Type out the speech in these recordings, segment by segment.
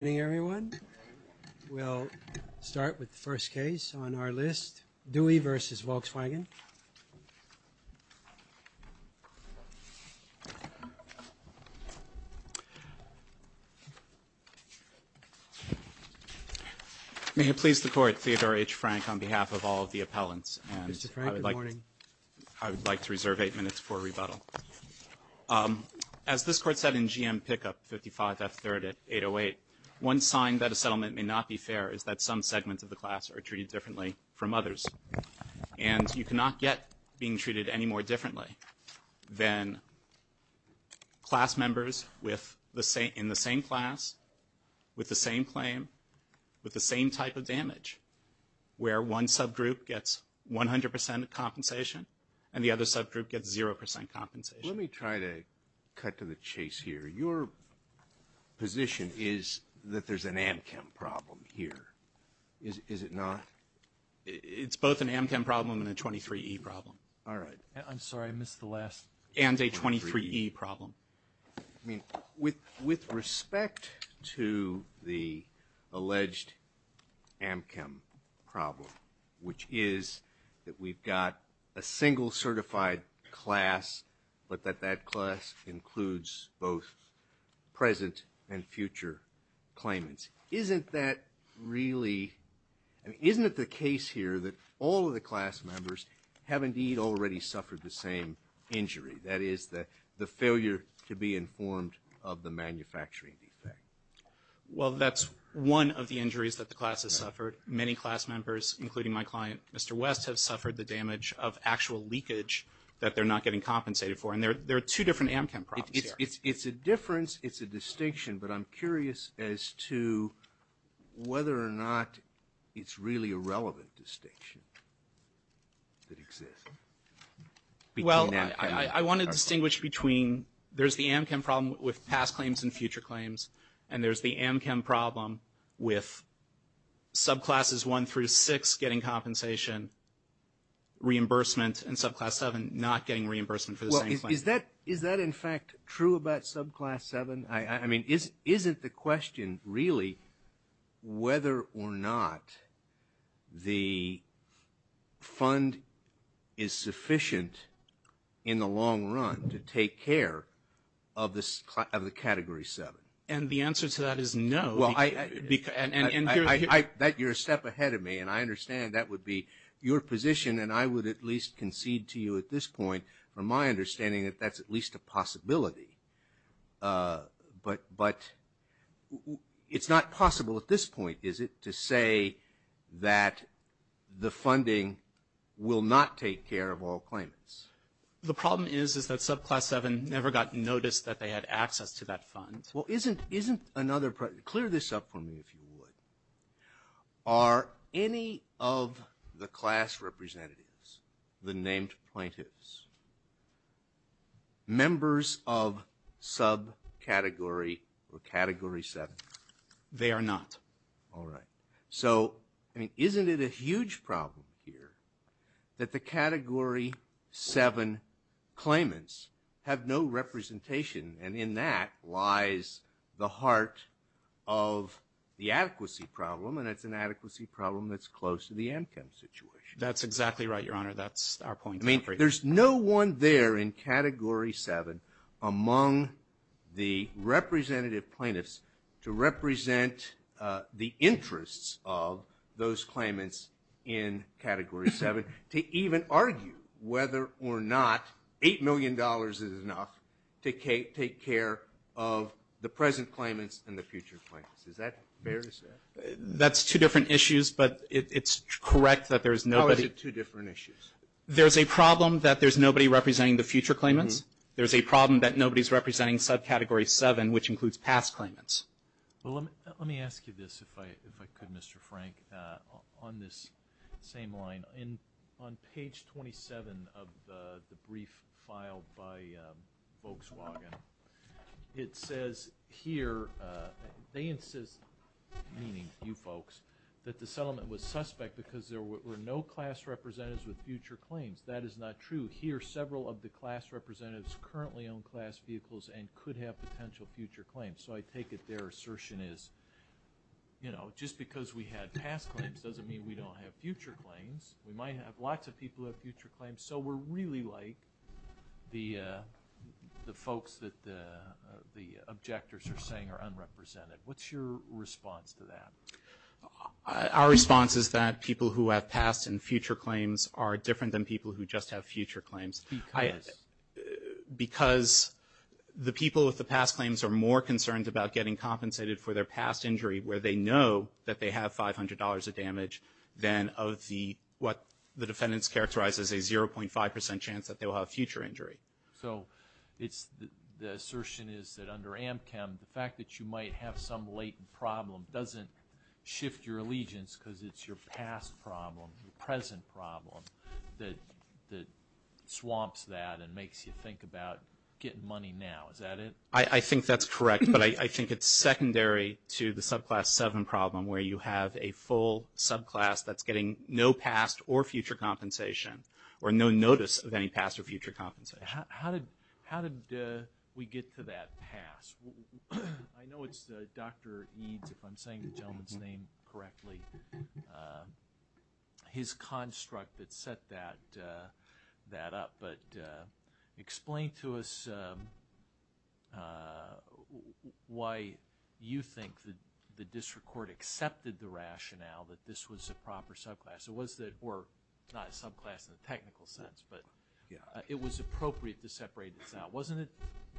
Good morning everyone. We'll start with the first case on our list, Dewey v. Volkswagen. May it please the Court, Theodore H. Frank on behalf of all of the appellants. Mr. Frank, good morning. I would like to reserve eight minutes for rebuttal. As this Court said in G.M. Pickup 55 F. 3rd at 808, one sign that a settlement may not be fair is that some segments of the class are treated differently from others. And you cannot get being treated any more differently than class members in the same class, with the same claim, with the same type of damage, where one subgroup gets 100 percent compensation and the other subgroup gets zero percent compensation. Let me try to cut to the chase here. Your position is that there's an Amchem problem here, is it not? It's both an Amchem problem and a 23E problem. All right. I'm sorry, I missed the last one. And a 23E problem. With respect to the alleged Amchem problem, which is that we've got a single certified class, but that that class includes both present and future claimants, isn't that really, isn't it the case here that all of the class members have indeed already suffered the same injury? That is, the failure to be informed of the manufacturing defect. Well, that's one of the injuries that the class has suffered. Many class members, including my client, Mr. West, have suffered the damage of actual leakage that they're not getting compensated for. And there are two different Amchem problems here. It's a difference, it's a distinction, but I'm curious as to whether or not it's really a relevant distinction that exists. Well, I want to distinguish between, there's the Amchem problem with past claims and future claims, and there's the Amchem problem with subclasses one through six getting compensation, reimbursement, and subclass seven not getting reimbursement for the same claim. Is that in fact true about subclass seven? I mean, isn't the question really whether or not the fund is sufficient in the long run to take care of the category seven? And the answer to that is no. You're a step ahead of me, and I understand that would be your position, and I would at least concede to you at this point from my understanding that that's at least a possibility. But it's not possible at this point, is it, to say that the funding will not take care of all claimants. The problem is, is that subclass seven never got notice that they had access to that fund. Well, isn't another, clear this up for me if you would. Are any of the class representatives, the named plaintiffs, members of subcategory or category seven? They are not. All right. So, isn't it a huge problem here that the category seven claimants have no representation, and in that lies the heart of the adequacy problem, and it's an adequacy problem that's close to the income situation. That's exactly right, Your Honor. That's our point. I mean, there's no one there in category seven among the representative plaintiffs to represent the interests of those claimants in category seven, to even argue whether or not $8 million is enough to take care of the present claimants and the future claimants. Is that fair to say? That's two different issues, but it's correct that there's nobody. How is it two different issues? There's a problem that there's nobody representing the future claimants. There's a problem that nobody's representing subcategory seven, which includes past claimants. Let me ask you this, if I could, Mr. Frank, on this same line. On page 27 of the brief filed by Volkswagen, it says here they insist, meaning you folks, that the settlement was suspect because there were no class representatives with future claims. That is not true. Here, several of the class representatives currently own class vehicles and could have potential future claims. So I take it their assertion is, you know, just because we had past claims doesn't mean we don't have future claims. We might have lots of people who have future claims, so we're really like the folks that the objectors are saying are unrepresented. What's your response to that? Our response is that people who have past and future claims are different than people who just have future claims. Because? Because the people with the past claims are more concerned about getting compensated for their past injury, where they know that they have $500 of damage, than of what the defendants characterize as a 0.5% chance that they will have future injury. So the assertion is that under AMCM, the fact that you might have some latent problem doesn't shift your allegiance because it's your past problem, your present problem, that swamps that and makes you think about getting money now. Is that it? I think that's correct, but I think it's secondary to the subclass 7 problem, where you have a full subclass that's getting no past or future compensation or no notice of any past or future compensation. How did we get to that past? I know it's Dr. Eades, if I'm saying the gentleman's name correctly, his construct that set that up, but explain to us why you think the district court accepted the rationale that this was a proper subclass, or not a subclass in a technical sense, but it was appropriate to separate this out. Wasn't it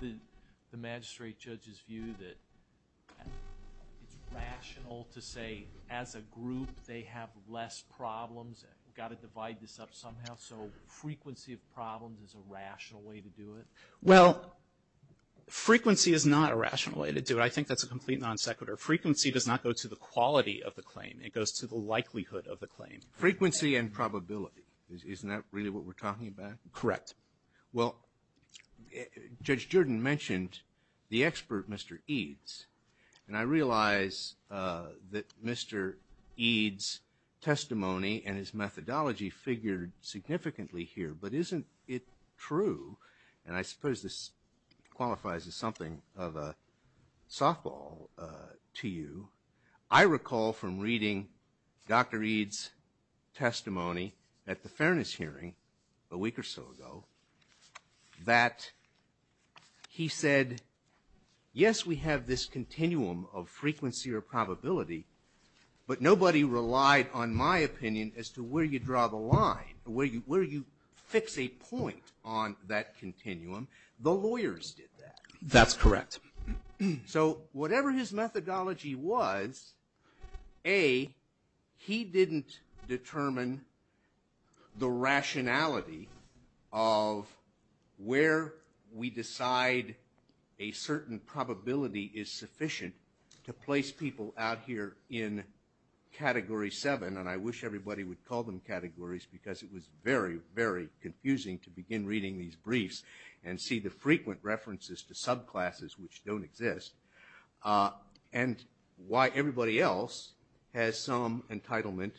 the magistrate judge's view that it's rational to say as a group they have less problems, got to divide this up somehow, so frequency of problems is a rational way to do it? Well, frequency is not a rational way to do it. I think that's a complete non sequitur. Frequency does not go to the quality of the claim. It goes to the likelihood of the claim. Frequency and probability. Isn't that really what we're talking about? Correct. Well, Judge Jordan mentioned the expert, Mr. Eades, and I realize that Mr. Eades' testimony and his methodology figured significantly here, but isn't it true, and I suppose this qualifies as something of a softball to you, I recall from reading Dr. Eades' testimony at the fairness hearing a week or so ago that he said, yes, we have this continuum of frequency or probability, but nobody relied on my opinion as to where you draw the line, where you fix a point on that continuum. The lawyers did that. That's correct. So whatever his methodology was, A, he didn't determine the rationality of where we decide a certain probability is sufficient to place people out here in Category 7, and I wish everybody would call them categories because it was very, very confusing to begin reading these briefs and see the frequent references to subclasses which don't exist and why everybody else has some entitlement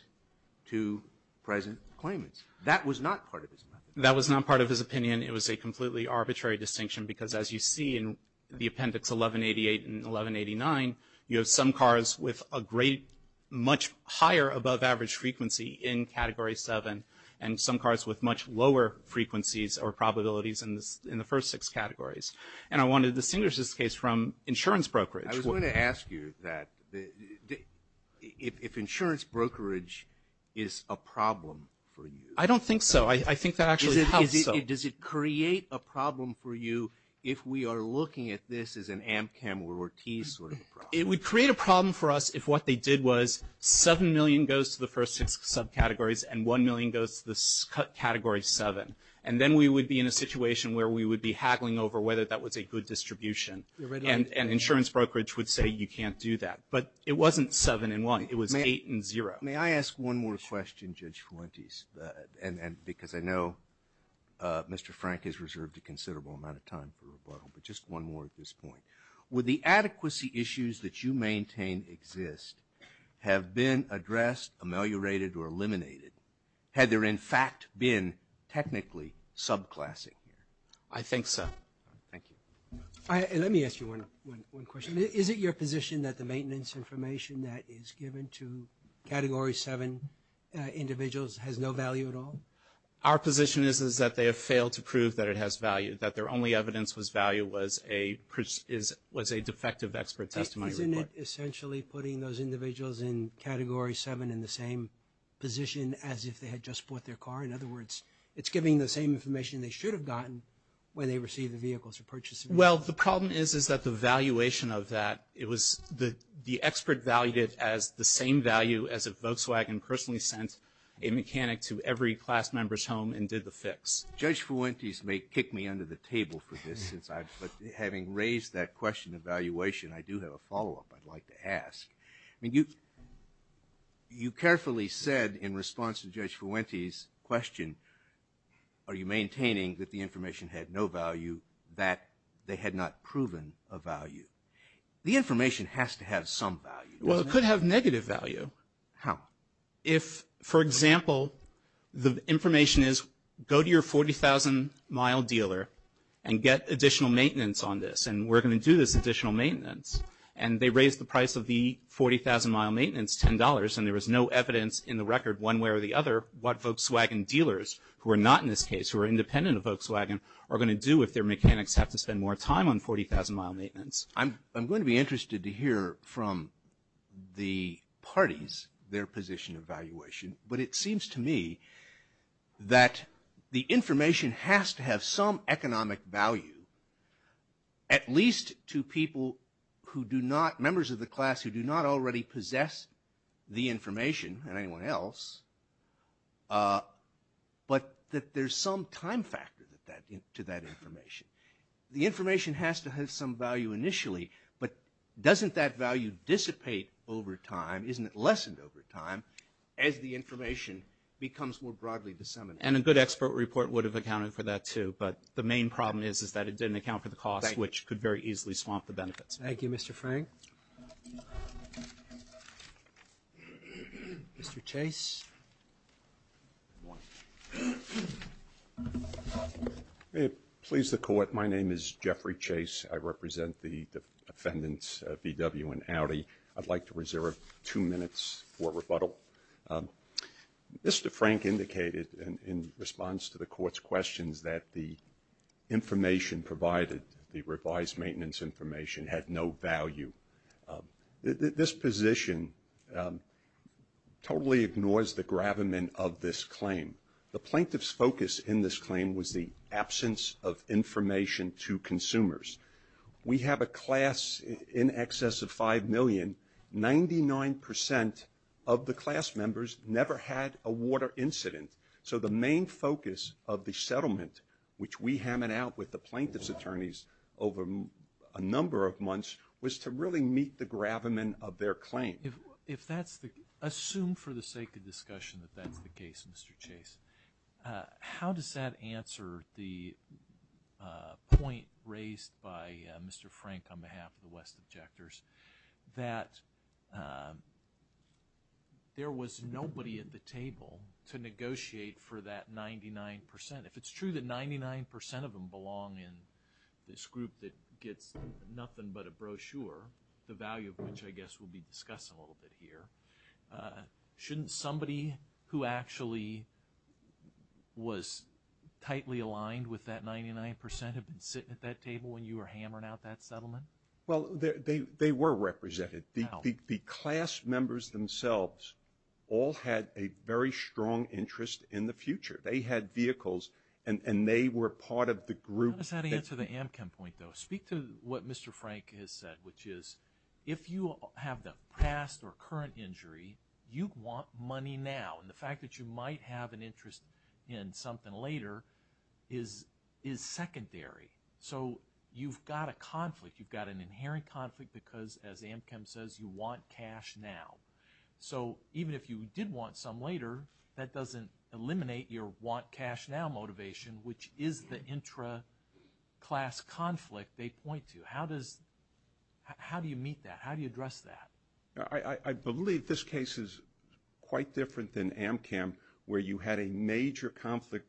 to present claimants. That was not part of his methodology. That was not part of his opinion. It was a completely arbitrary distinction because, as you see in the Appendix 1188 and 1189, you have some cars with a much higher above-average frequency in Category 7 and some cars with much lower frequencies or probabilities in the first six categories. And I want to distinguish this case from insurance brokerage. I was going to ask you if insurance brokerage is a problem for you. I don't think so. I think that actually helps. Does it create a problem for you if we are looking at this as an Amchem or Ortiz sort of problem? It would create a problem for us if what they did was 7 million goes to the first six subcategories and 1 million goes to the category 7. And then we would be in a situation where we would be haggling over whether that was a good distribution. And insurance brokerage would say you can't do that. But it wasn't 7 and 1. It was 8 and 0. May I ask one more question, Judge Fuentes, because I know Mr. Frank has reserved a considerable amount of time for rebuttal, but just one more at this point. Would the adequacy issues that you maintain exist have been addressed, ameliorated, or eliminated had there in fact been technically subclassing? I think so. Thank you. Let me ask you one question. Is it your position that the maintenance information that is given to category 7 individuals has no value at all? Our position is that they have failed to prove that it has value, that their only evidence of value was a defective expert testimony report. Isn't it essentially putting those individuals in category 7 in the same position as if they had just bought their car? In other words, it's giving the same information they should have gotten when they received the vehicles or purchased the vehicles. Well, the problem is that the valuation of that, the expert valued it as the same value as if Volkswagen personally sent a mechanic to every class member's home and did the fix. Judge Fuentes may kick me under the table for this, but having raised that question of valuation, I do have a follow-up I'd like to ask. You carefully said in response to Judge Fuentes' question, are you maintaining that the information had no value, that they had not proven a value? The information has to have some value, doesn't it? Well, it could have negative value. How? If, for example, the information is go to your 40,000-mile dealer and get additional maintenance on this and we're going to do this additional maintenance and they raise the price of the 40,000-mile maintenance $10 and there is no evidence in the record one way or the other what Volkswagen dealers, who are not in this case, who are independent of Volkswagen, are going to do if their mechanics have to spend more time on 40,000-mile maintenance. I'm going to be interested to hear from the parties their position of valuation, but it seems to me that the information has to have some economic value, at least to people who do not, members of the class who do not already possess the information and anyone else, but that there's some time factor to that information. The information has to have some value initially, but doesn't that value dissipate over time? Isn't it lessened over time as the information becomes more broadly disseminated? And a good expert report would have accounted for that too, but the main problem is that it didn't account for the cost, which could very easily swamp the benefits. Thank you, Mr. Frank. Mr. Chase. May it please the Court. My name is Jeffrey Chase. I represent the defendants, VW and Audi. I'd like to reserve two minutes for rebuttal. Mr. Frank indicated in response to the Court's questions that the information provided, the revised maintenance information, had no value. This position totally ignores the gravamen of this claim. The plaintiff's focus in this claim was the absence of information to consumers. We have a class in excess of 5 million. Ninety-nine percent of the class members never had a water incident. So the main focus of the settlement, which we hammered out with the plaintiff's attorneys over a number of months, was to really meet the gravamen of their claim. Assume for the sake of discussion that that's the case, Mr. Chase. How does that answer the point raised by Mr. Frank on behalf of the West Objectors, that there was nobody at the table to negotiate for that 99 percent? If it's true that 99 percent of them belong in this group that gets nothing but a brochure, the value of which I guess we'll be discussing a little bit here, shouldn't somebody who actually was tightly aligned with that 99 percent have been sitting at that table when you were hammering out that settlement? Well, they were represented. The class members themselves all had a very strong interest in the future. They had vehicles, and they were part of the group. How does that answer the Amchem point, though? Speak to what Mr. Frank has said, which is, if you have the past or current injury, you want money now. And the fact that you might have an interest in something later is secondary. So you've got a conflict. You've got an inherent conflict because, as Amchem says, you want cash now. So even if you did want some later, that doesn't eliminate your want cash now motivation, which is the intra-class conflict they point to. How do you meet that? How do you address that? I believe this case is quite different than Amchem, where you had a major conflict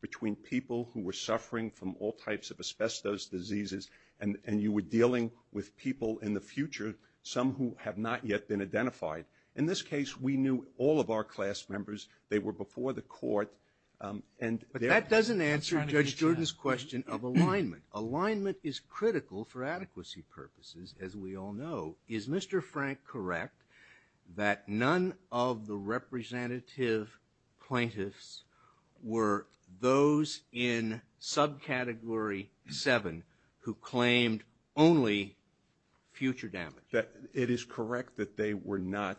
between people who were suffering from all types of asbestos diseases, and you were dealing with people in the future, some who have not yet been identified. In this case, we knew all of our class members. They were before the court. But that doesn't answer Judge Jordan's question of alignment. Alignment is critical for adequacy purposes, as we all know. Is Mr. Frank correct that none of the representative plaintiffs were those in subcategory 7 who claimed only future damage? It is correct that they were not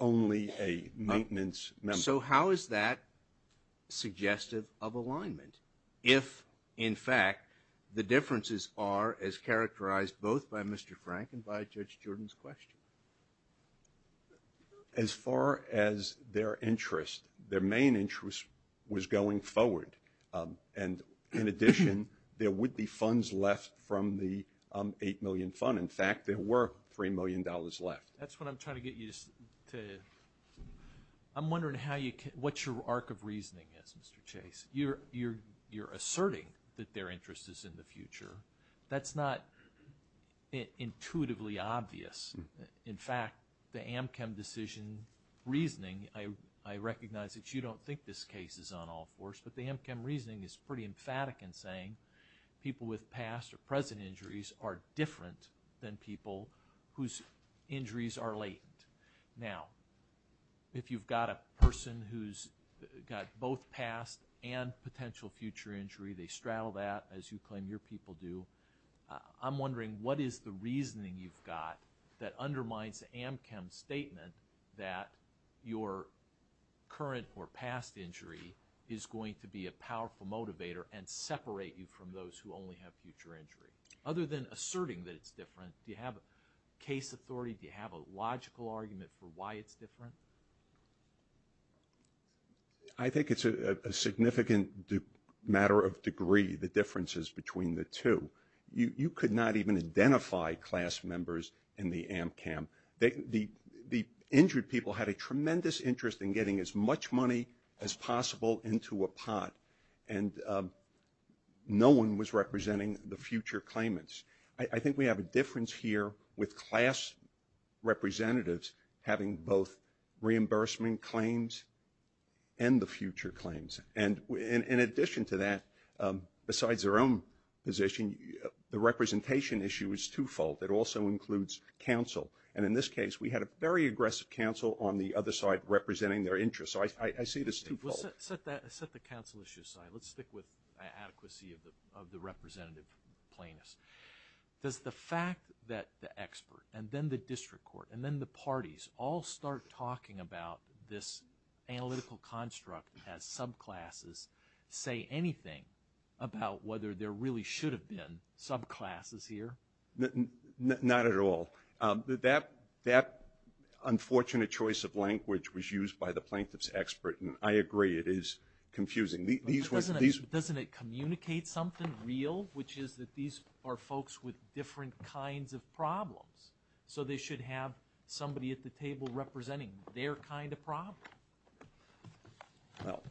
only a maintenance member. So how is that suggestive of alignment if, in fact, the differences are as characterized both by Mr. Frank and by Judge Jordan's question? As far as their interest, their main interest was going forward. And in addition, there would be funds left from the $8 million fund. In fact, there were $3 million left. That's what I'm trying to get you to. I'm wondering what your arc of reasoning is, Mr. Chase. You're asserting that their interest is in the future. That's not intuitively obvious. In fact, the AmChem decision reasoning, I recognize that you don't think this case is on all fours, but the AmChem reasoning is pretty emphatic in saying people with past or present injuries are different than people whose injuries are latent. Now, if you've got a person who's got both past and potential future injury, they straddle that, as you claim your people do, I'm wondering what is the reasoning you've got that undermines the AmChem statement that your current or past injury is going to be a powerful motivator and separate you from those who only have future injury? Other than asserting that it's different, do you have case authority? Do you have a logical argument for why it's different? I think it's a significant matter of degree, the differences between the two. You could not even identify class members in the AmChem. The injured people had a tremendous interest in getting as much money as possible into a pot, and no one was representing the future claimants. I think we have a difference here with class representatives having both reimbursement claims and the future claims. And in addition to that, besides their own position, the representation issue is twofold. It also includes counsel. And in this case, we had a very aggressive counsel on the other side representing their interests. So I see this twofold. Let's set the counsel issue aside. Let's stick with adequacy of the representative plaintiffs. Does the fact that the expert and then the district court and then the parties all start talking about this analytical construct as subclasses say anything about whether there really should have been subclasses here? Not at all. That unfortunate choice of language was used by the plaintiff's expert, and I agree it is confusing. Doesn't it communicate something real, which is that these are folks with different kinds of problems, so they should have somebody at the table representing their kind of problem? Well,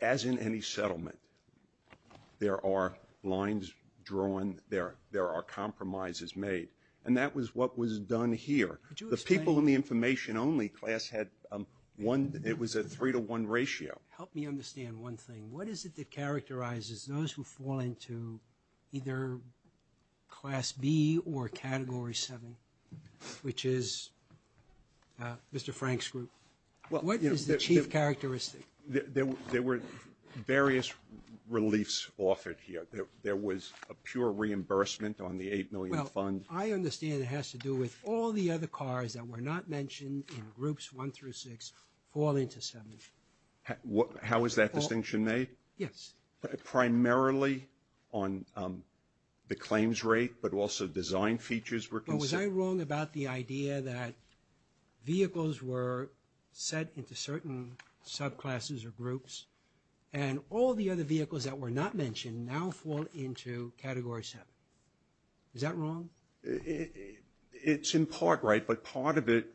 as in any settlement, there are lines drawn. There are compromises made, and that was what was done here. The people in the information-only class had one. It was a three-to-one ratio. Help me understand one thing. What is it that characterizes those who fall into either Class B or Category 7, which is Mr. Frank's group? What is the chief characteristic? There were various reliefs offered here. There was a pure reimbursement on the $8 million fund. Well, I understand it has to do with all the other cars that were not mentioned in Groups 1 through 6 fall into 7. How is that distinction made? Yes. Primarily on the claims rate, but also design features were considered. But was I wrong about the idea that vehicles were set into certain subclasses or groups, and all the other vehicles that were not mentioned now fall into Category 7? Is that wrong? It's in part right, but part of it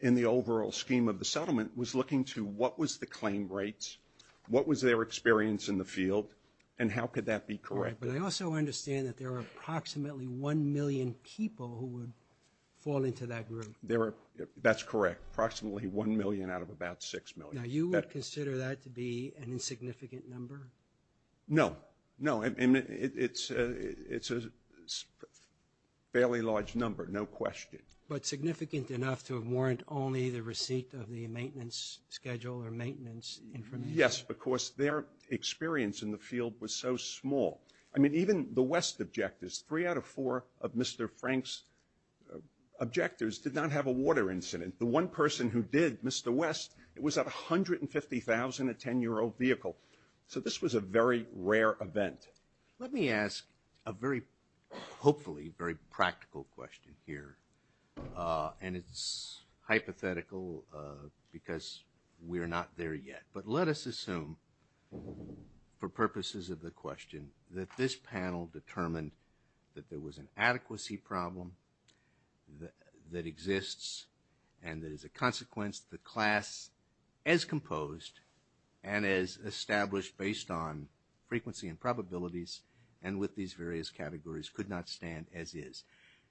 in the overall scheme of the settlement was looking to what was the claim rates, what was their experience in the field, and how could that be corrected? But I also understand that there are approximately 1 million people who would fall into that group. That's correct, approximately 1 million out of about 6 million. Now, you would consider that to be an insignificant number? No. No, it's a fairly large number, no question. But significant enough to warrant only the receipt of the maintenance schedule or maintenance information? Yes, because their experience in the field was so small. I mean, even the West objectors, 3 out of 4 of Mr. Frank's objectors did not have a water incident. The one person who did, Mr. West, was at 150,000, a 10-year-old vehicle. So this was a very rare event. Let me ask a very, hopefully, very practical question here, and it's hypothetical because we're not there yet. But let us assume, for purposes of the question, that this panel determined that there was an adequacy problem that exists and that as a consequence, the class as composed and as established based on frequency and probabilities and with these various categories could not stand as is.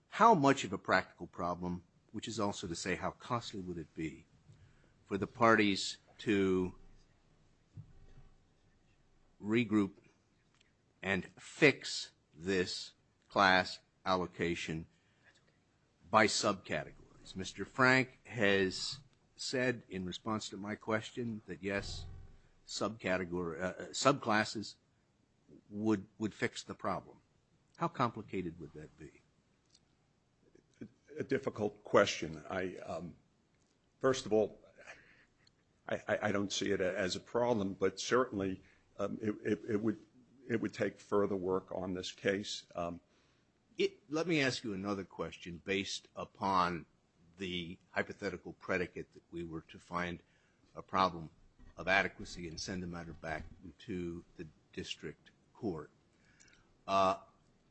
How much of a practical problem, which is also to say how costly would it be for the parties to regroup and fix this class allocation by subcategories? Mr. Frank has said in response to my question that yes, subclasses would fix the problem. How complicated would that be? A difficult question. First of all, I don't see it as a problem, but certainly it would take further work on this case. Let me ask you another question based upon the hypothetical predicate that we were to find a problem of adequacy and send the matter back to the district court.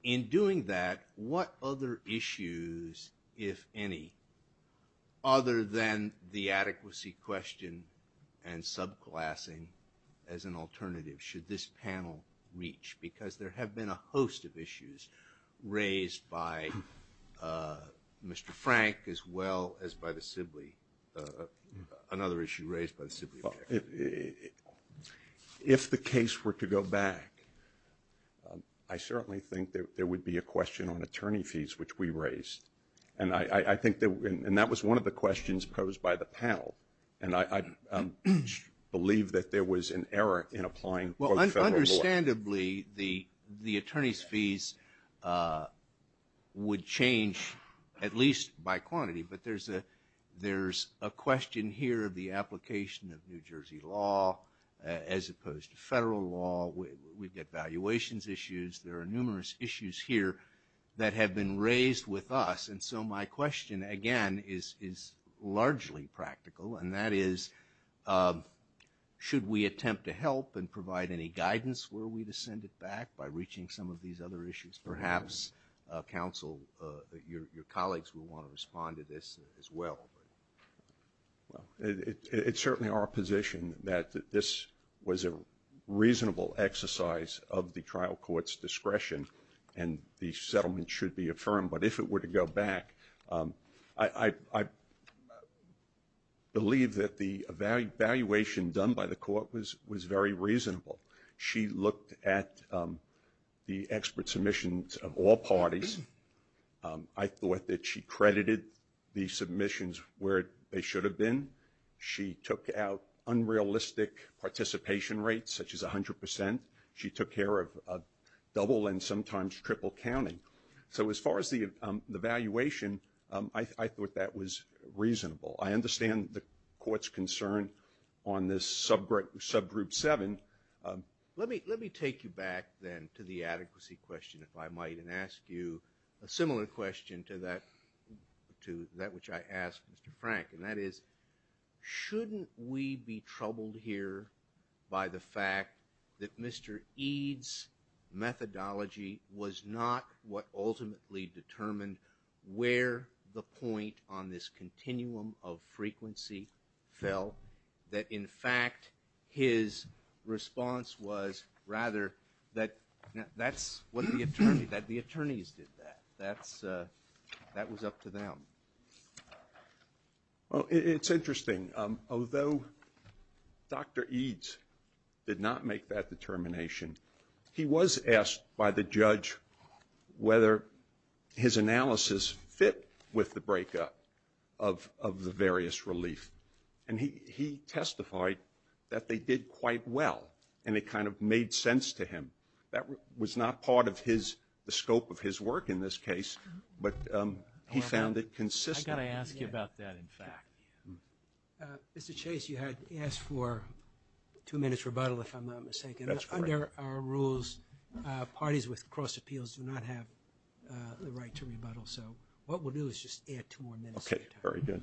In doing that, what other issues, if any, other than the adequacy question and subclassing as an alternative, should this panel reach? Because there have been a host of issues raised by Mr. Frank as well as by the Sibley, another issue raised by the Sibley. If the case were to go back, I certainly think there would be a question on attorney fees, which we raised. And that was one of the questions posed by the panel. And I believe that there was an error in applying federal law. Well, understandably, the attorney's fees would change at least by quantity. But there's a question here of the application of New Jersey law as opposed to federal law. We've got valuations issues. There are numerous issues here that have been raised with us. And so my question, again, is largely practical. And that is, should we attempt to help and provide any guidance were we to send it back by reaching some of these other issues? Perhaps, counsel, your colleagues will want to respond to this as well. It's certainly our position that this was a reasonable exercise of the trial court's discretion, and the settlement should be affirmed. But if it were to go back, I believe that the evaluation done by the court was very reasonable. She looked at the expert submissions of all parties. I thought that she credited the submissions where they should have been. She took out unrealistic participation rates, such as 100%. She took care of double and sometimes triple counting. So as far as the evaluation, I thought that was reasonable. I understand the court's concern on this subgroup seven. Let me take you back, then, to the adequacy question, if I might, and ask you a similar question to that which I asked Mr. Frank. And that is, shouldn't we be troubled here by the fact that Mr. Eade's methodology was not what ultimately determined where the point on this continuum of frequency fell? That, in fact, his response was rather that the attorneys did that. That was up to them. Well, it's interesting. Although Dr. Eade did not make that determination, he was asked by the judge whether his analysis fit with the breakup of the various relief. And he testified that they did quite well, and it kind of made sense to him. That was not part of the scope of his work in this case, but he found it consistent. I've got to ask you about that, in fact. Mr. Chase, you had asked for two minutes rebuttal, if I'm not mistaken. That's correct. Under our rules, parties with cross appeals do not have the right to rebuttal. So what we'll do is just add two more minutes. Okay, very good.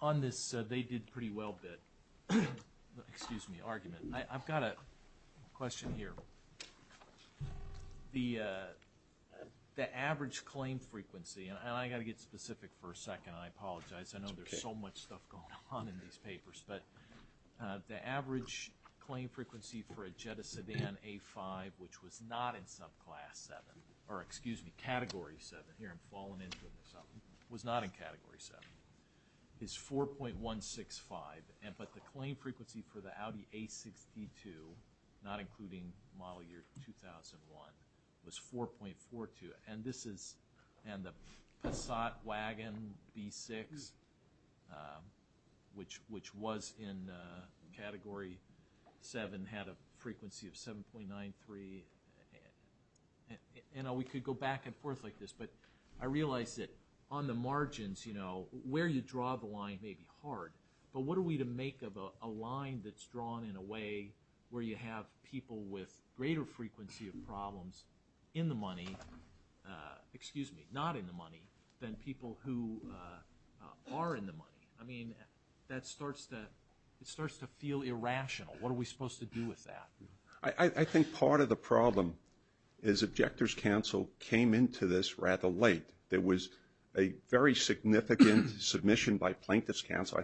On this they did pretty well bit, excuse me, argument, I've got a question here. The average claim frequency, and I've got to get specific for a second, and I apologize. That's okay. There's so much stuff going on in these papers. But the average claim frequency for a Jetta sedan A5, which was not in subclass 7, or excuse me, category 7, here I'm falling into it myself, was not in category 7, is 4.165. But the claim frequency for the Audi A6 D2, not including model year 2001, was 4.42. And the Passat wagon B6, which was in category 7, had a frequency of 7.93. And we could go back and forth like this, but I realize that on the margins, where you draw the line may be hard, but what are we to make of a line that's drawn in a way where you have people with greater frequency of problems in the money, excuse me, not in the money than people who are in the money? I mean, that starts to feel irrational. What are we supposed to do with that? I think part of the problem is Objectors' Counsel came into this rather late. So I think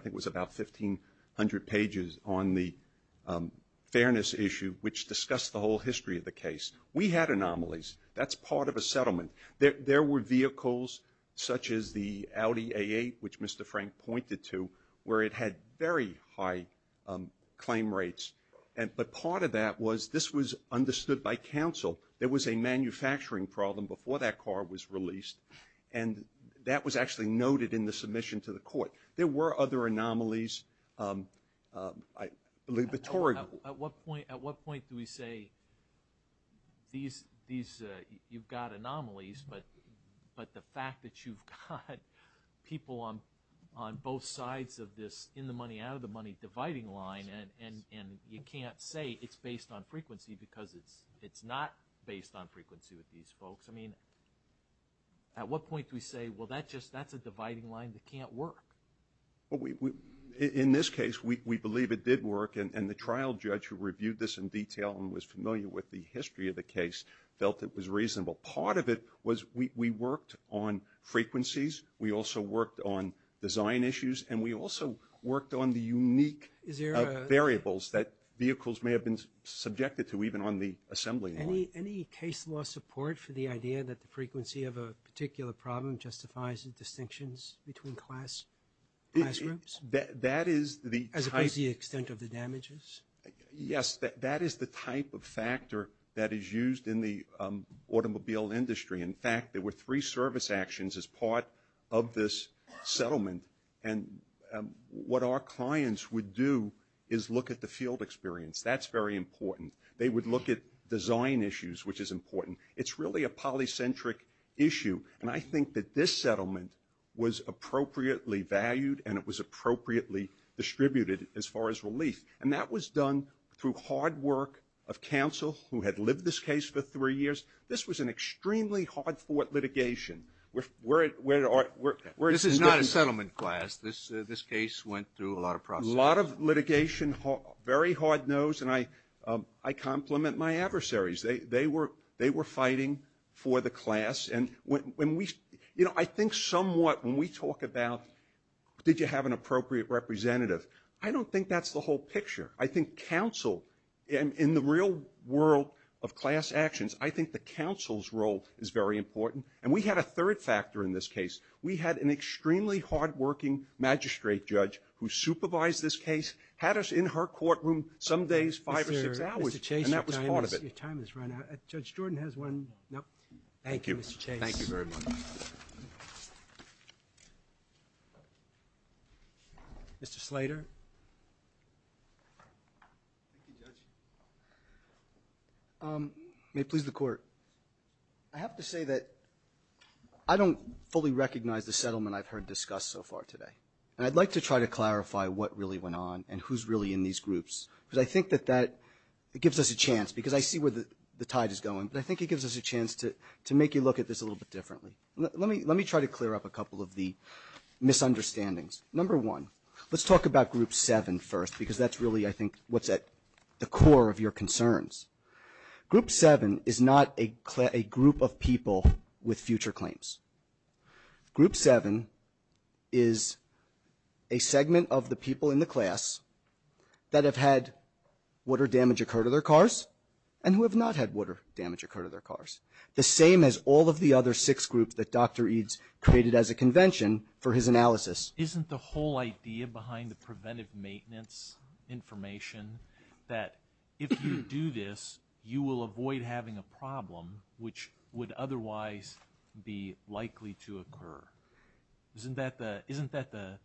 it was about 1,500 pages on the fairness issue, which discussed the whole history of the case. We had anomalies. That's part of a settlement. There were vehicles such as the Audi A8, which Mr. Frank pointed to, where it had very high claim rates. But part of that was this was understood by counsel. There was a manufacturing problem before that car was released, and that was actually noted in the submission to the court. There were other anomalies. At what point do we say you've got anomalies, but the fact that you've got people on both sides of this in-the-money, out-of-the-money dividing line and you can't say it's based on frequency because it's not based on frequency with these folks. I mean, at what point do we say, well, that's a dividing line that can't work? In this case, we believe it did work, and the trial judge who reviewed this in detail and was familiar with the history of the case felt it was reasonable. Part of it was we worked on frequencies. We also worked on design issues, and we also worked on the unique variables that vehicles may have been subjected to even on the assembly line. Any case law support for the idea that the frequency of a particular problem justifies the distinctions between class groups? As opposed to the extent of the damages? Yes, that is the type of factor that is used in the automobile industry. In fact, there were three service actions as part of this settlement, and what our clients would do is look at the field experience. That's very important. They would look at design issues, which is important. It's really a polycentric issue, and I think that this settlement was appropriately valued and it was appropriately distributed as far as relief, and that was done through hard work of counsel who had lived this case for three years. This was an extremely hard-fought litigation. This is not a settlement class. This case went through a lot of process. A lot of litigation, very hard-nosed, and I compliment my adversaries. They were fighting for the class. I think somewhat when we talk about did you have an appropriate representative, I don't think that's the whole picture. I think counsel in the real world of class actions, I think the counsel's role is very important, and we had a third factor in this case. We had an extremely hard-working magistrate judge who supervised this case, had us in her courtroom some days five or six hours, and that was part of it. Mr. Chase, your time has run out. Judge Jordan has one. Thank you. Thank you, Mr. Chase. Thank you very much. Mr. Slater. Thank you, Judge. May it please the Court. I have to say that I don't fully recognize the settlement I've heard discussed so far today, and I'd like to try to clarify what really went on and who's really in these groups, because I think that that gives us a chance, because I see where the tide is going, but I think it gives us a chance to make you look at this a little bit differently. Let me try to clear up a couple of the misunderstandings. Number one, let's talk about group seven first, because that's really, I think, what's at the core of your concerns. Group seven is not a group of people with future claims. Group seven is a segment of the people in the class that have had water damage occur to their cars and who have not had water damage occur to their cars, the same as all of the other six groups that Dr. Eades created as a convention for his analysis. Isn't the whole idea behind the preventive maintenance information that if you do this, you will avoid having a problem which would otherwise be likely to occur? Isn't that the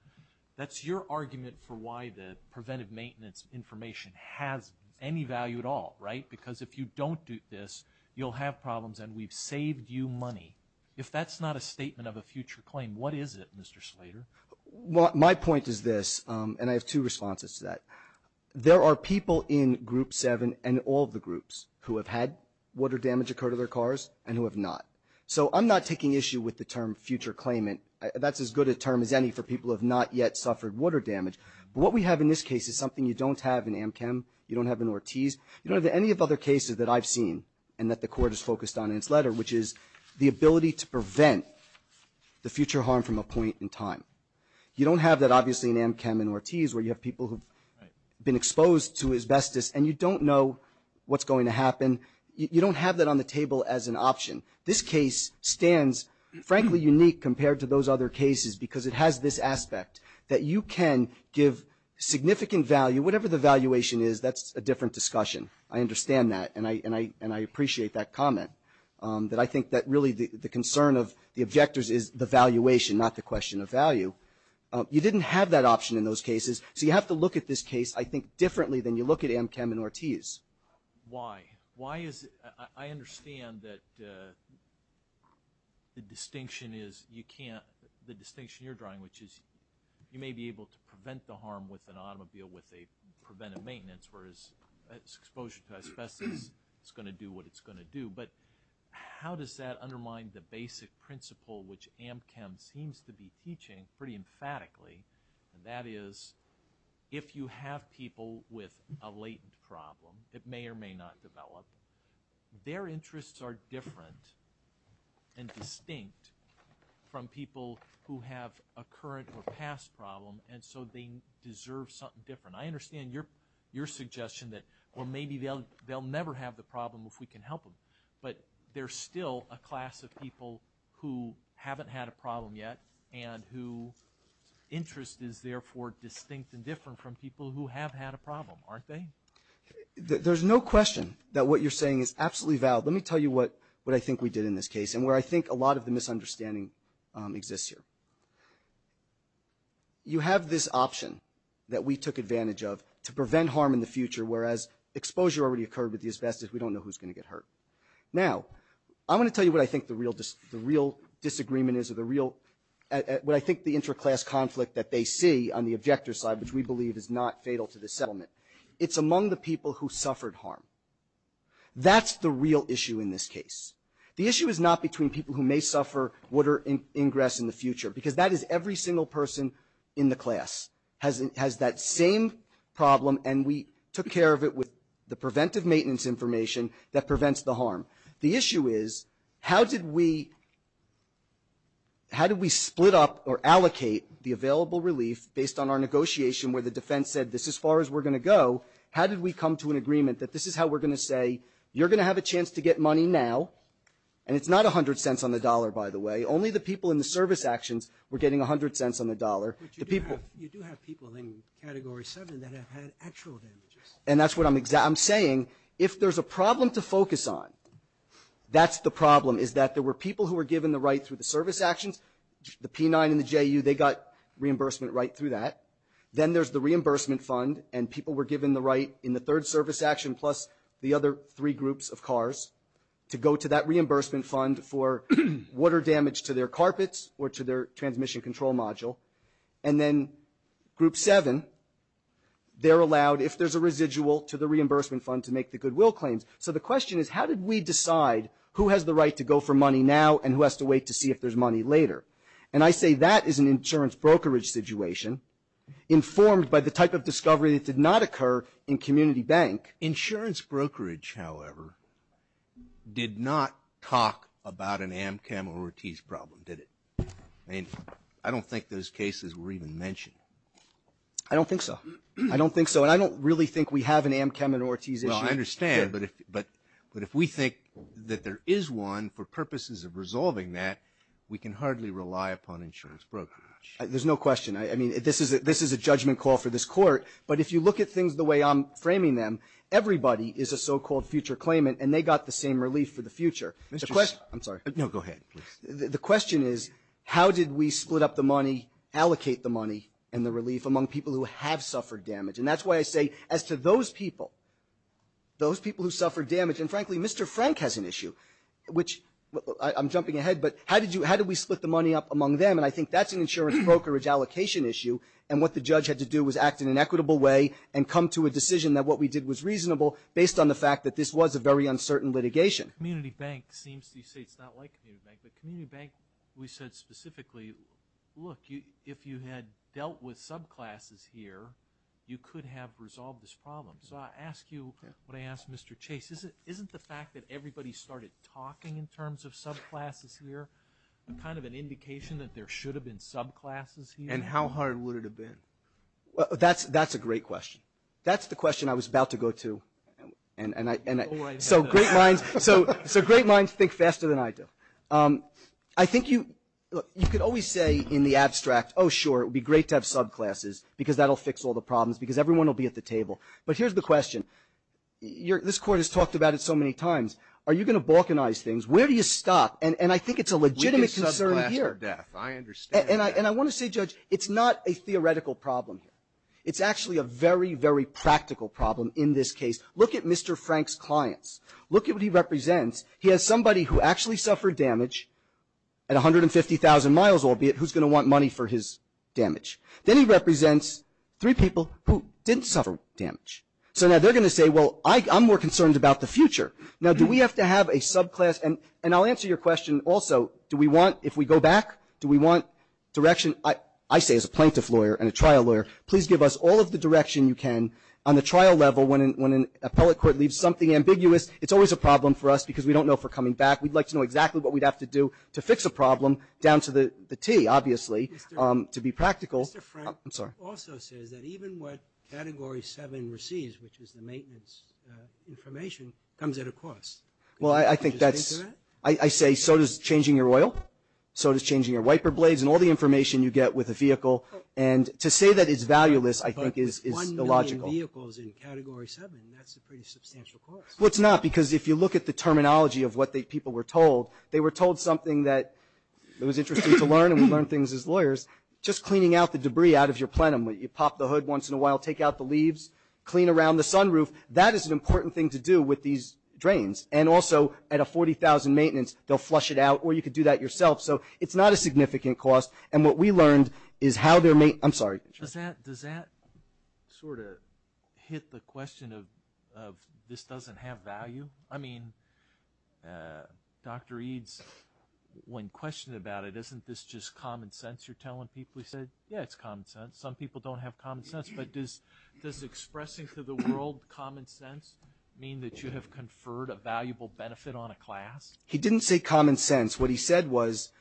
– that's your argument for why the preventive maintenance information has any value at all, right? Because if you don't do this, you'll have problems, and we've saved you money. If that's not a statement of a future claim, what is it, Mr. Slater? Well, my point is this, and I have two responses to that. There are people in group seven and all of the groups who have had water damage occur to their cars and who have not. So I'm not taking issue with the term future claimant. That's as good a term as any for people who have not yet suffered water damage. But what we have in this case is something you don't have in Amchem, you don't have in Ortiz, you don't have any of the other cases that I've seen and that the Court has focused on in its letter, which is the ability to prevent the future harm from a point in time. You don't have that, obviously, in Amchem and Ortiz, where you have people who have been exposed to asbestos, and you don't know what's going to happen. You don't have that on the table as an option. This case stands, frankly, unique compared to those other cases because it has this aspect, that you can give significant value, whatever the valuation is, that's a different discussion. I understand that, and I appreciate that comment, that I think that really the concern of the objectors is the valuation, not the question of value. You didn't have that option in those cases. So you have to look at this case, I think, differently than you look at Amchem and Ortiz. Why? I understand that the distinction you're drawing, which is you may be able to prevent the harm with an automobile with a preventive maintenance, whereas exposure to asbestos is going to do what it's going to do. But how does that undermine the basic principle, which Amchem seems to be teaching pretty emphatically, and that is if you have people with a latent problem that may or may not develop, their interests are different and distinct from people who have a current or past problem, and so they deserve something different. I understand your suggestion that, well, maybe they'll never have the problem if we can help them, but there's still a class of people who haven't had a problem yet and whose interest is therefore distinct and different from people who have had a problem, aren't they? There's no question that what you're saying is absolutely valid. Let me tell you what I think we did in this case and where I think a lot of the misunderstanding exists here. You have this option that we took advantage of to prevent harm in the future, whereas exposure already occurred with the asbestos. We don't know who's going to get hurt. Now, I want to tell you what I think the real disagreement is, or what I think the interclass conflict that they see on the objector side, which we believe is not fatal to the settlement. It's among the people who suffered harm. That's the real issue in this case. The issue is not between people who may suffer water ingress in the future, because that is every single person in the class has that same problem, and we took care of it with the preventive maintenance information that prevents the harm. The issue is, how did we split up or allocate the available relief based on our negotiation where the defense said, this is as far as we're going to go. How did we come to an agreement that this is how we're going to say, you're going to have a chance to get money now, and it's not 100 cents on the dollar, by the way. Only the people in the service actions were getting 100 cents on the dollar. The people do have people in Category 7 that have had actual damages. And that's what I'm saying. If there's a problem to focus on, that's the problem, is that there were people who were given the right through the service actions. The P9 and the JU, they got reimbursement right through that. Then there's the reimbursement fund, and people were given the right in the third service action plus the other three groups of cars to go to that reimbursement fund for water damage to their carpets or to their transmission control module. And then Group 7, they're allowed, if there's a residual, to the reimbursement fund to make the goodwill claims. So the question is, how did we decide who has the right to go for money now and who has to wait to see if there's money later? And I say that is an insurance brokerage situation informed by the type of discovery that did not occur in community bank. Insurance brokerage, however, did not talk about an Amchem or Ortiz problem, did it? I mean, I don't think those cases were even mentioned. I don't think so. I don't think so. And I don't really think we have an Amchem or Ortiz issue. Well, I understand. But if we think that there is one for purposes of resolving that, we can hardly rely upon insurance brokerage. There's no question. I mean, this is a judgment call for this Court. But if you look at things the way I'm framing them, everybody is a so-called future claimant, and they got the same relief for the future. I'm sorry. No, go ahead. The question is, how did we split up the money, allocate the money and the relief among people who have suffered damage? And that's why I say as to those people, those people who suffered damage, and, frankly, Mr. Frank has an issue, which I'm jumping ahead. But how did we split the money up among them? And I think that's an insurance brokerage allocation issue, and what the judge had to do was act in an equitable way and come to a decision that what we did was reasonable based on the fact that this was a very uncertain litigation. Community bank seems to say it's not like community bank. But community bank, we said specifically, look, if you had dealt with subclasses here, you could have resolved this problem. So I ask you what I asked Mr. Chase. Isn't the fact that everybody started talking in terms of subclasses here kind of an indication that there should have been subclasses here? And how hard would it have been? That's a great question. That's the question I was about to go to. So great minds think faster than I do. I think you could always say in the abstract, oh, sure, it would be great to have subclasses because that will fix all the problems, because everyone will be at the table. But here's the question. This Court has talked about it so many times. Are you going to balkanize things? Where do you stop? And I think it's a legitimate concern here. And I want to say, Judge, it's not a theoretical problem here. It's actually a very, very practical problem in this case. Look at Mr. Frank's clients. Look at what he represents. He has somebody who actually suffered damage at 150,000 miles, albeit who's going to want money for his damage. Then he represents three people who didn't suffer damage. So now they're going to say, well, I'm more concerned about the future. Now, do we have to have a subclass? And I'll answer your question also. Do we want, if we go back, do we want direction? I say as a plaintiff lawyer and a trial lawyer, please give us all of the direction you can on the trial level when an appellate court leaves something ambiguous. It's always a problem for us because we don't know if we're coming back. We'd like to know exactly what we'd have to do to fix a problem down to the T, obviously, to be practical. I'm sorry. Mr. Frank also says that even what Category 7 receives, which is the maintenance information, comes at a cost. Well, I think that's – I say so does changing your oil, so does changing your wiper blades and all the information you get with a vehicle. And to say that it's valueless, I think, is illogical. But with one million vehicles in Category 7, that's a pretty substantial cost. Well, it's not because if you look at the terminology of what people were told, they were told something that was interesting to learn, and we learn things as lawyers, just cleaning out the debris out of your plenum. You pop the hood once in a while, take out the leaves, clean around the sunroof. That is an important thing to do with these drains. And also, at a 40,000 maintenance, they'll flush it out. Or you could do that yourself. So it's not a significant cost. And what we learned is how they're – I'm sorry. Does that sort of hit the question of this doesn't have value? I mean, Dr. Eades, when questioned about it, isn't this just common sense you're telling people? He said, yeah, it's common sense. Some people don't have common sense. But does expressing to the world common sense mean that you have conferred a valuable benefit on a class? He didn't say common sense. What he said was –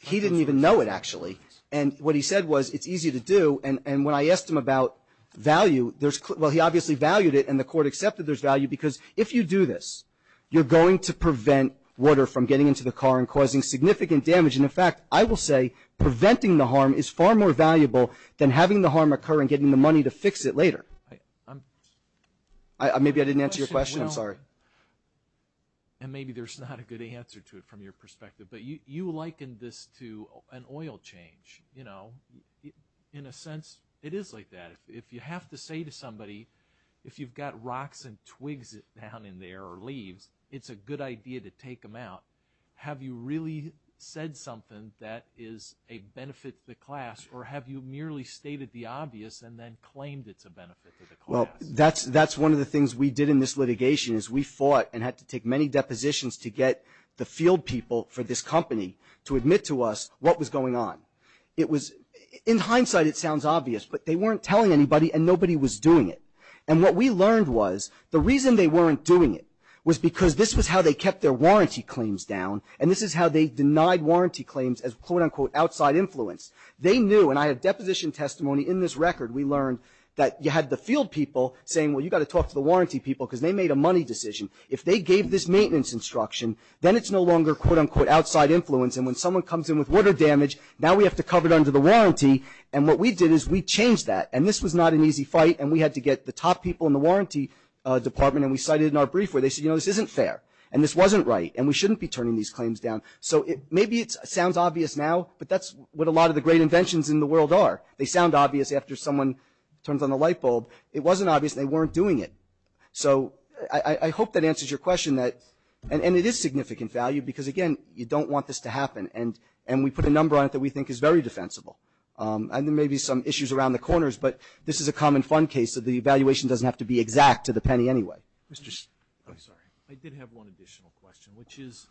he didn't even know it, actually. And what he said was it's easy to do. And when I asked him about value, there's – well, he obviously valued it, and the court accepted there's value because if you do this, you're going to prevent water from getting into the car and causing significant damage. And, in fact, I will say preventing the harm is far more valuable than having the harm occur and getting the money to fix it later. Maybe I didn't answer your question. I'm sorry. And maybe there's not a good answer to it from your perspective. But you likened this to an oil change. You know, in a sense, it is like that. If you have to say to somebody, if you've got rocks and twigs down in there or leaves, it's a good idea to take them out. Have you really said something that is a benefit to the class, or have you merely stated the obvious and then claimed it's a benefit to the class? Well, that's one of the things we did in this litigation, is we fought and had to take many depositions to get the field people for this company to admit to us what was going on. It was – in hindsight, it sounds obvious, but they weren't telling anybody, and nobody was doing it. And what we learned was the reason they weren't doing it was because this was how they kept their warranty claims down, and this is how they denied warranty claims as quote, unquote, outside influence. They knew, and I had deposition testimony in this record. We learned that you had the field people saying, well, you've got to talk to the warranty people because they made a money decision. If they gave this maintenance instruction, then it's no longer quote, unquote, outside influence, and when someone comes in with water damage, now we have to cover it under the warranty. And what we did is we changed that, and this was not an easy fight, and we had to get the top people in the warranty department, and we cited it in our brief where they said, you know, this isn't fair, and this wasn't right, and we shouldn't be turning these claims down. So maybe it sounds obvious now, but that's what a lot of the great inventions in the world are. They sound obvious after someone turns on the light bulb. It wasn't obvious they weren't doing it. So I hope that answers your question. And it is significant value because, again, you don't want this to happen, and we put a number on it that we think is very defensible. And there may be some issues around the corners, but this is a common fund case, so the evaluation doesn't have to be exact to the penny anyway. I'm sorry. I did have one additional question, which is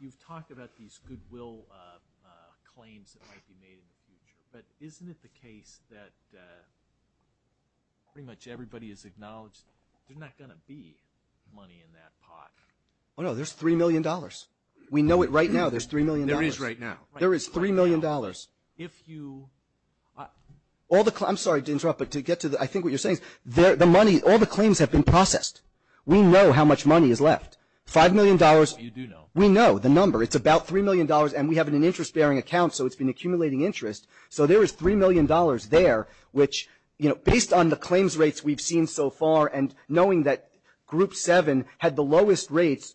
you've talked about these goodwill claims that might be made in the future, but isn't it the case that pretty much everybody has acknowledged there's not going to be money in that pot? Oh, no, there's $3 million. We know it right now. There's $3 million. There is right now. There is $3 million. If you – I'm sorry to interrupt, but to get to I think what you're saying, all the claims have been processed. We know how much money is left. $5 million. You do know. We know the number. It's about $3 million, and we have an interest-bearing account, so it's been accumulating interest. So there is $3 million there, which, you know, based on the claims rates we've seen so far and knowing that Group 7 had the lowest rates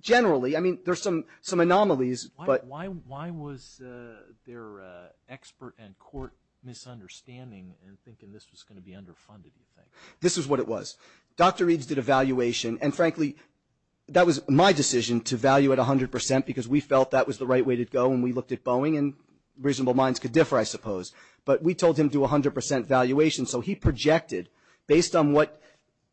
generally, I mean, there's some anomalies. Why was there expert and court misunderstanding in thinking this was going to be underfunded, do you think? This is what it was. Dr. Reeds did a valuation, and frankly, that was my decision to value at 100% because we felt that was the right way to go, and we looked at Boeing, and reasonable minds could differ, I suppose. But we told him to do 100% valuation, so he projected based on what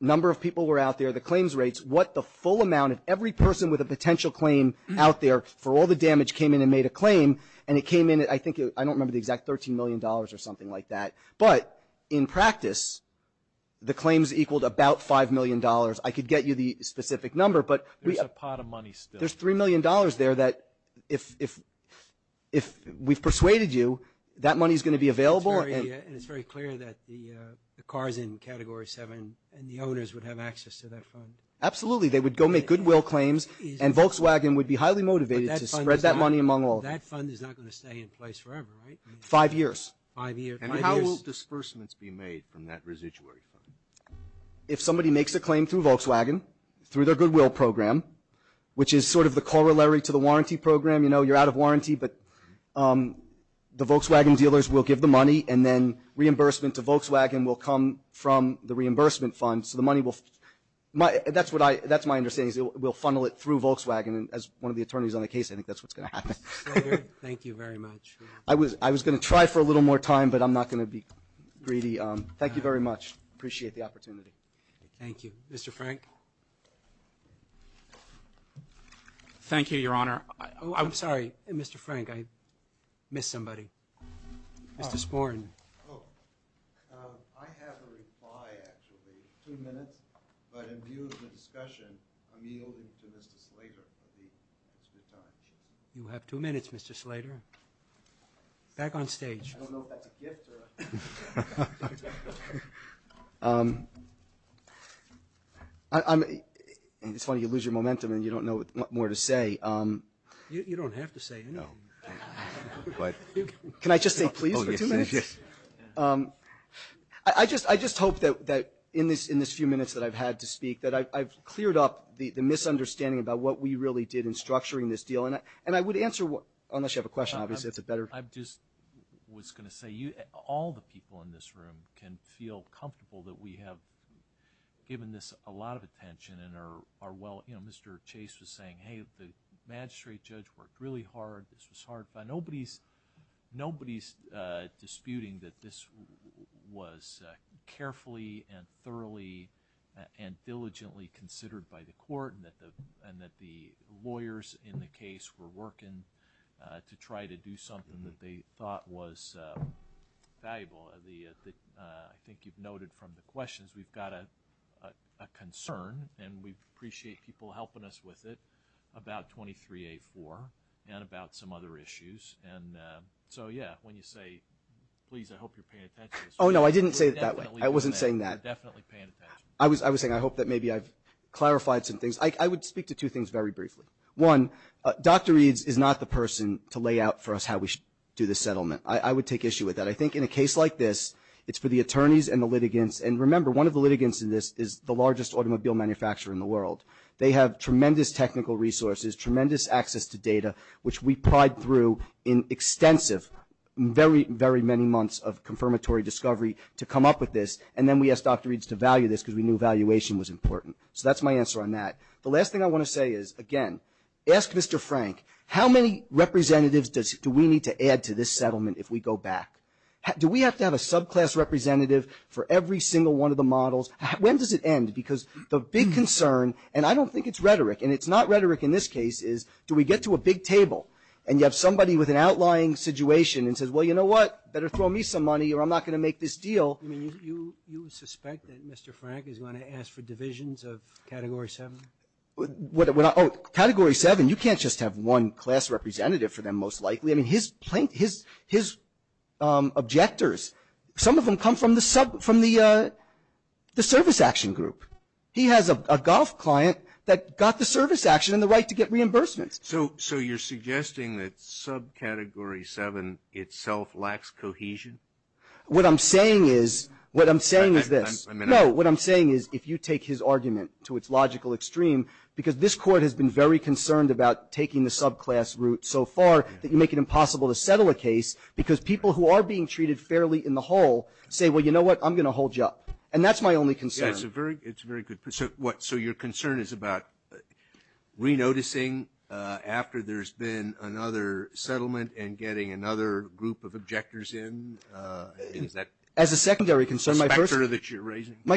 number of people were out there, the claims rates, what the full amount of every person with a potential claim out there for all the damage came in and made a claim, and it came in at, I think, I don't remember the exact, $13 million or something like that. But in practice, the claims equaled about $5 million. I could get you the specific number. There's a pot of money still. There's $3 million there that if we've persuaded you, that money is going to be available. And it's very clear that the cars in Category 7 and the owners would have access to that fund. Absolutely. They would go make goodwill claims, and Volkswagen would be highly motivated to spread that money among all. But that fund is not going to stay in place forever, right? Five years. Five years. And how will disbursements be made from that residuary fund? If somebody makes a claim through Volkswagen, through their goodwill program, which is sort of the corollary to the warranty program, you know, you're out of warranty, but the Volkswagen dealers will give the money, and then reimbursement to Volkswagen will come from the reimbursement fund, so that's my understanding is it will funnel it through Volkswagen, and as one of the attorneys on the case, I think that's what's going to happen. Mr. Slater, thank you very much. I was going to try for a little more time, but I'm not going to be greedy. Thank you very much. Appreciate the opportunity. Thank you. Mr. Frank? Thank you, Your Honor. I'm sorry, Mr. Frank, I missed somebody. Mr. Sporn. Oh, I have a reply, actually, two minutes, but in view of the discussion, I'm yielding to Mr. Slater. You have two minutes, Mr. Slater. Back on stage. I don't know if that's a gift. It's funny, you lose your momentum and you don't know what more to say. You don't have to say anything. Can I just say, please, for two minutes? Yes. I just hope that in this few minutes that I've had to speak that I've cleared up the misunderstanding about what we really did in structuring this deal, and I would answer, unless you have a question, obviously, that's a better. I just was going to say all the people in this room can feel comfortable that we have given this a lot of attention and are well, you know, Mr. Chase was saying, hey, the magistrate judge worked really hard. This was hard. Nobody's disputing that this was carefully and thoroughly and diligently considered by the court and that the lawyers in the case were working to try to do something that they thought was valuable. I think you've noted from the questions, we've got a concern, and we appreciate people helping us with it about 23A4 and about some other issues. And so, yeah, when you say, please, I hope you're paying attention. Oh, no, I didn't say it that way. I wasn't saying that. Definitely paying attention. I was saying I hope that maybe I've clarified some things. I would speak to two things very briefly. One, Dr. Eades is not the person to lay out for us how we should do this settlement. I would take issue with that. I think in a case like this, it's for the attorneys and the litigants, and remember, one of the litigants in this is the largest automobile manufacturer in the world. They have tremendous technical resources, tremendous access to data, which we plied through in extensive, very, very many months of confirmatory discovery to come up with this, and then we asked Dr. Eades to value this because we knew valuation was important. So that's my answer on that. The last thing I want to say is, again, ask Mr. Frank, how many representatives do we need to add to this settlement if we go back? Do we have to have a subclass representative for every single one of the models? When does it end? Because the big concern, and I don't think it's rhetoric, and it's not rhetoric in this case, is do we get to a big table and you have somebody with an outlying situation and says, well, you know what, better throw me some money or I'm not going to make this deal. You suspect that Mr. Frank is going to ask for divisions of Category 7? Category 7, you can't just have one class representative for them, most likely. I mean, his objectors, some of them come from the service action group. He has a golf client that got the service action and the right to get reimbursements. So you're suggesting that subcategory 7 itself lacks cohesion? What I'm saying is, what I'm saying is this. No, what I'm saying is if you take his argument to its logical extreme, because this Court has been very concerned about taking the subclass route so far that you make it impossible to settle a case because people who are being treated fairly in the whole say, well, you know what, I'm going to hold you up. And that's my only concern. It's a very good point. So your concern is about re-noticing after there's been another settlement and getting another group of objectors in? As a secondary concern, my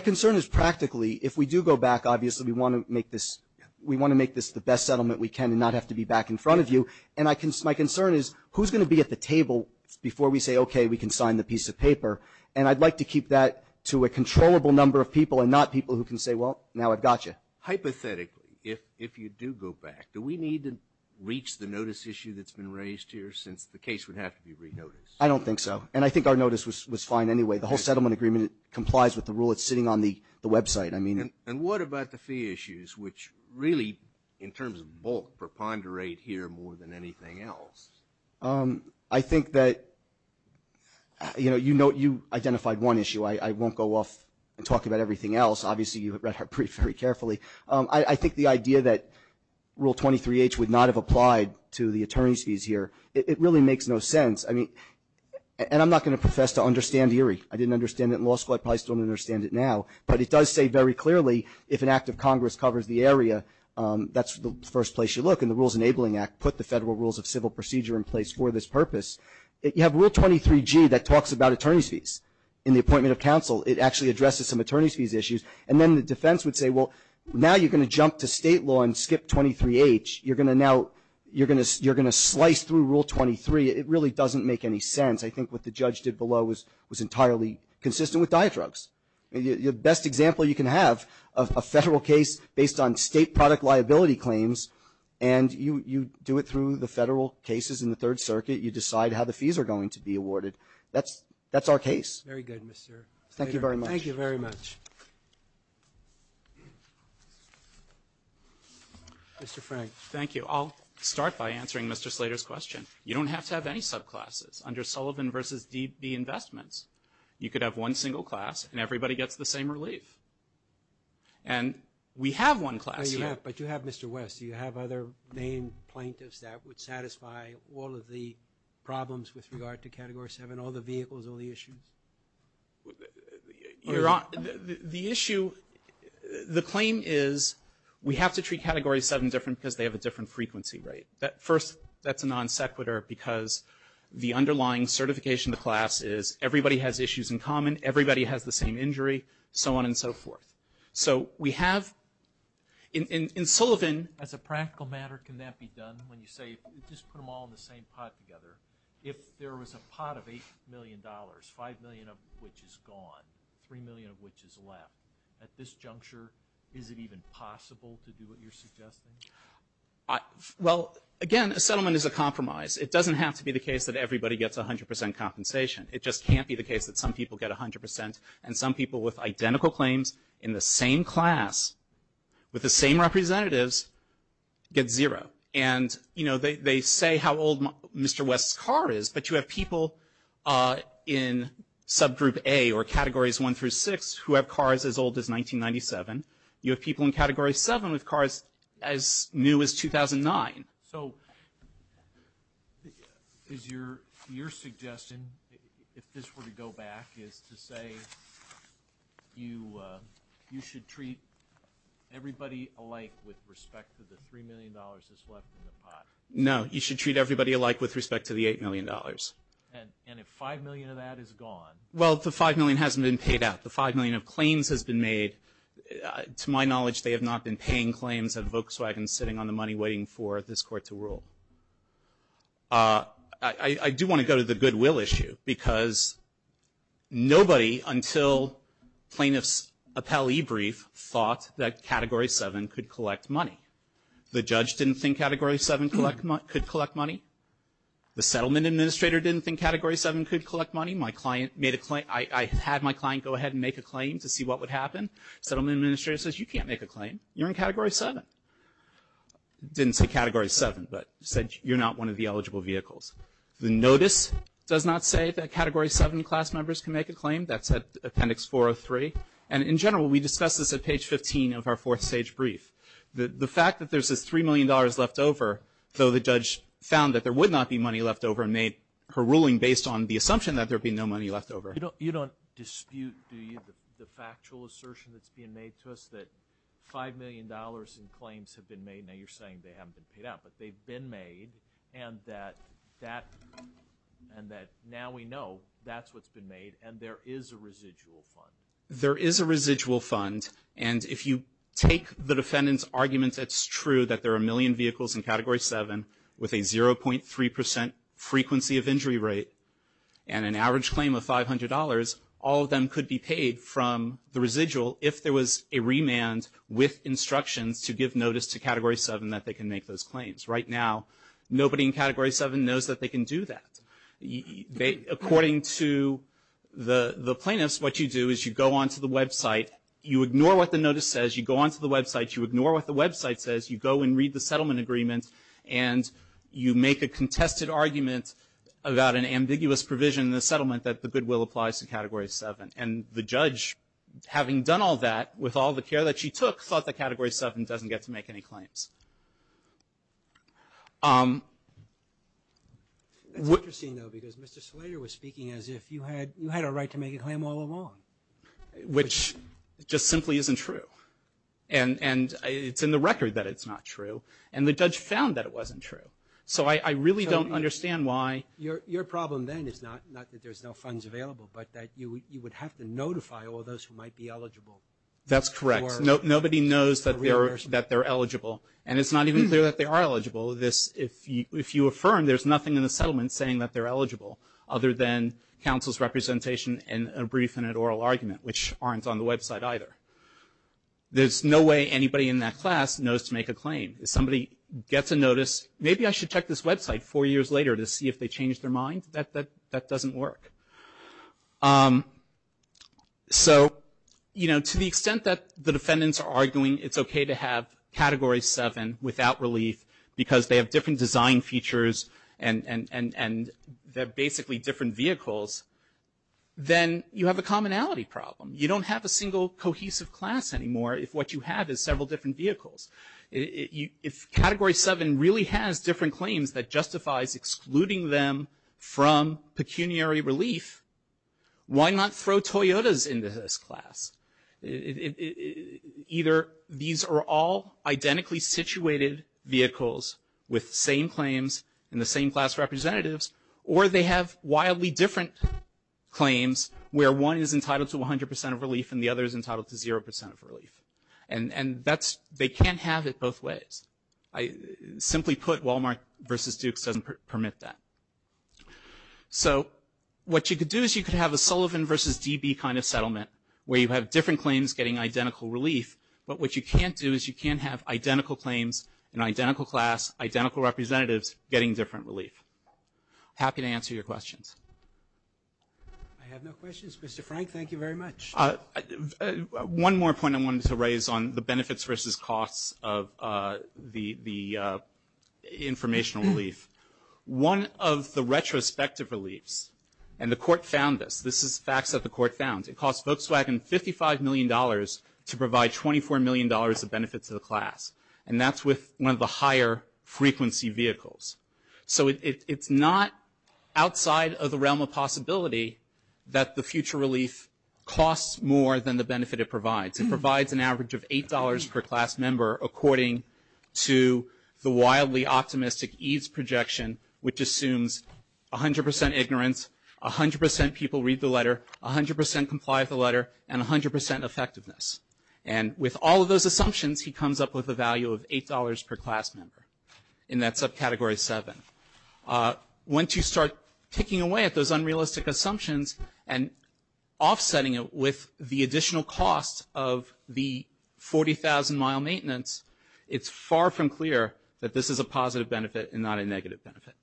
concern is practically if we do go back, obviously, we want to make this the best settlement we can and not have to be back in front of you. And my concern is who's going to be at the table before we say, okay, we can sign the piece of paper. And I'd like to keep that to a controllable number of people and not people who can say, well, now I've got you. Hypothetically, if you do go back, do we need to reach the notice issue that's been raised here since the case would have to be re-noticed? I don't think so. And I think our notice was fine anyway. The whole settlement agreement complies with the rule. It's sitting on the website. And what about the fee issues, which really, in terms of bulk, preponderate here more than anything else? I think that, you know, you identified one issue. I won't go off and talk about everything else. Obviously, you read our brief very carefully. I think the idea that Rule 23H would not have applied to the attorney's fees here, it really makes no sense. And I'm not going to profess to understand ERI. I didn't understand it in law school. I probably still don't understand it now. But it does say very clearly, if an act of Congress covers the area, that's the first place you look. And the Rules Enabling Act put the Federal Rules of Civil Procedure in place for this purpose. You have Rule 23G that talks about attorney's fees. In the appointment of counsel, it actually addresses some attorney's fees issues. And then the defense would say, well, now you're going to jump to state law and skip 23H. You're going to slice through Rule 23. It really doesn't make any sense. I think what the judge did below was entirely consistent with diet drugs. The best example you can have of a federal case based on state product liability claims, and you do it through the federal cases in the Third Circuit, you decide how the fees are going to be awarded. That's our case. Very good, Mr. Slater. Thank you very much. Thank you very much. Mr. Frank. Thank you. I'll start by answering Mr. Slater's question. You don't have to have any subclasses. You could have one single class and everybody gets the same relief. And we have one class here. But you have Mr. West. Do you have other main plaintiffs that would satisfy all of the problems with regard to Category 7, all the vehicles, all the issues? The issue, the claim is we have to treat Category 7 different because they have a different frequency rate. First, that's a non-sequitur because the underlying certification of the class is everybody has issues in common, everybody has the same injury, so on and so forth. So we have in Sullivan, as a practical matter, can that be done when you say just put them all in the same pot together? If there was a pot of $8 million, 5 million of which is gone, 3 million of which is left, at this juncture is it even possible to do what you're suggesting? Well, again, a settlement is a compromise. It doesn't have to be the case that everybody gets 100 percent compensation. It just can't be the case that some people get 100 percent and some people with identical claims in the same class with the same representatives get zero. And, you know, they say how old Mr. West's car is, but you have people in Subgroup A or Categories 1 through 6 who have cars as old as 1997. You have people in Category 7 with cars as new as 2009. So is your suggestion, if this were to go back, is to say you should treat everybody alike with respect to the $3 million that's left in the pot? No, you should treat everybody alike with respect to the $8 million. And if 5 million of that is gone? Well, the 5 million hasn't been paid out. The 5 million of claims has been made. To my knowledge, they have not been paying claims at Volkswagen sitting on the money waiting for this court to rule. I do want to go to the goodwill issue because nobody until plaintiffs' appellee brief thought that Category 7 could collect money. The judge didn't think Category 7 could collect money. The settlement administrator didn't think Category 7 could collect money. My client made a claim. I had my client go ahead and make a claim to see what would happen. Settlement administrator says, you can't make a claim. You're in Category 7. Didn't say Category 7, but said you're not one of the eligible vehicles. The notice does not say that Category 7 class members can make a claim. That's at Appendix 403. And in general, we discussed this at page 15 of our fourth stage brief. The fact that there's this $3 million left over, though the judge found that there would not be money left over and made her ruling based on the assumption that there would be no money left over. You don't dispute, do you, the factual assertion that's being made to us that $5 million in claims have been made? Now, you're saying they haven't been paid out, but they've been made and that now we know that's what's been made and there is a residual fund. There is a residual fund, and if you take the defendant's argument, it's true that there are a million vehicles in Category 7 with a 0.3% frequency of injury rate and an average claim of $500, all of them could be paid from the residual if there was a remand with instructions to give notice to Category 7 that they can make those claims. Right now, nobody in Category 7 knows that they can do that. According to the plaintiffs, what you do is you go onto the website, you ignore what the notice says, you go onto the website, you ignore what the website says, you go and read the settlement agreement, and you make a contested argument about an ambiguous provision in the settlement that the goodwill applies to Category 7. And the judge, having done all that with all the care that she took, thought that Category 7 doesn't get to make any claims. It's interesting, though, because Mr. Slater was speaking as if you had a right to make a claim all along. Which just simply isn't true. And it's in the record that it's not true. And the judge found that it wasn't true. So I really don't understand why. Your problem then is not that there's no funds available, but that you would have to notify all those who might be eligible. That's correct. Nobody knows that they're eligible. And it's not even clear that they are eligible. If you affirm, there's nothing in the settlement saying that they're eligible other than counsel's representation in a brief and an oral argument, which aren't on the website either. There's no way anybody in that class knows to make a claim. If somebody gets a notice, maybe I should check this website four years later to see if they changed their mind. That doesn't work. So, you know, to the extent that the defendants are arguing it's okay to have Category 7 without relief because they have different design features and they're basically different vehicles, then you have a commonality problem. You don't have a single cohesive class anymore if what you have is several different vehicles. If Category 7 really has different claims that justifies excluding them from pecuniary relief, why not throw Toyotas into this class? Either these are all identically situated vehicles with the same claims and the same class representatives, or they have wildly different claims where one is entitled to 100% of relief and the other is entitled to 0% of relief. And they can't have it both ways. Simply put, Walmart versus Dukes doesn't permit that. So what you could do is you could have a Sullivan versus DB kind of settlement where you have different claims getting identical relief, but what you can't do is you can't have identical claims in identical class, identical representatives getting different relief. Happy to answer your questions. I have no questions. Mr. Frank, thank you very much. One more point I wanted to raise on the benefits versus costs of the informational relief. One of the retrospective reliefs, and the Court found this. This is facts that the Court found. It costs Volkswagen $55 million to provide $24 million of benefit to the class, and that's with one of the higher frequency vehicles. So it's not outside of the realm of possibility that the future relief costs more than the benefit it provides. It provides an average of $8 per class member, according to the wildly optimistic EADS projection, which assumes 100% ignorance, 100% people read the letter, 100% comply with the letter, and 100% effectiveness. And with all of those assumptions, he comes up with a value of $8 per class member in that subcategory 7. Once you start picking away at those unrealistic assumptions and offsetting it with the additional costs of the 40,000-mile maintenance, it's far from clear that this is a positive benefit and not a negative benefit.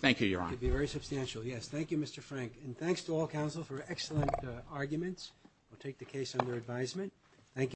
Thank you, Your Honor. Thank you, very substantial. Yes, thank you, Mr. Frank. And thanks to all counsel for excellent arguments. We'll take the case under advisement.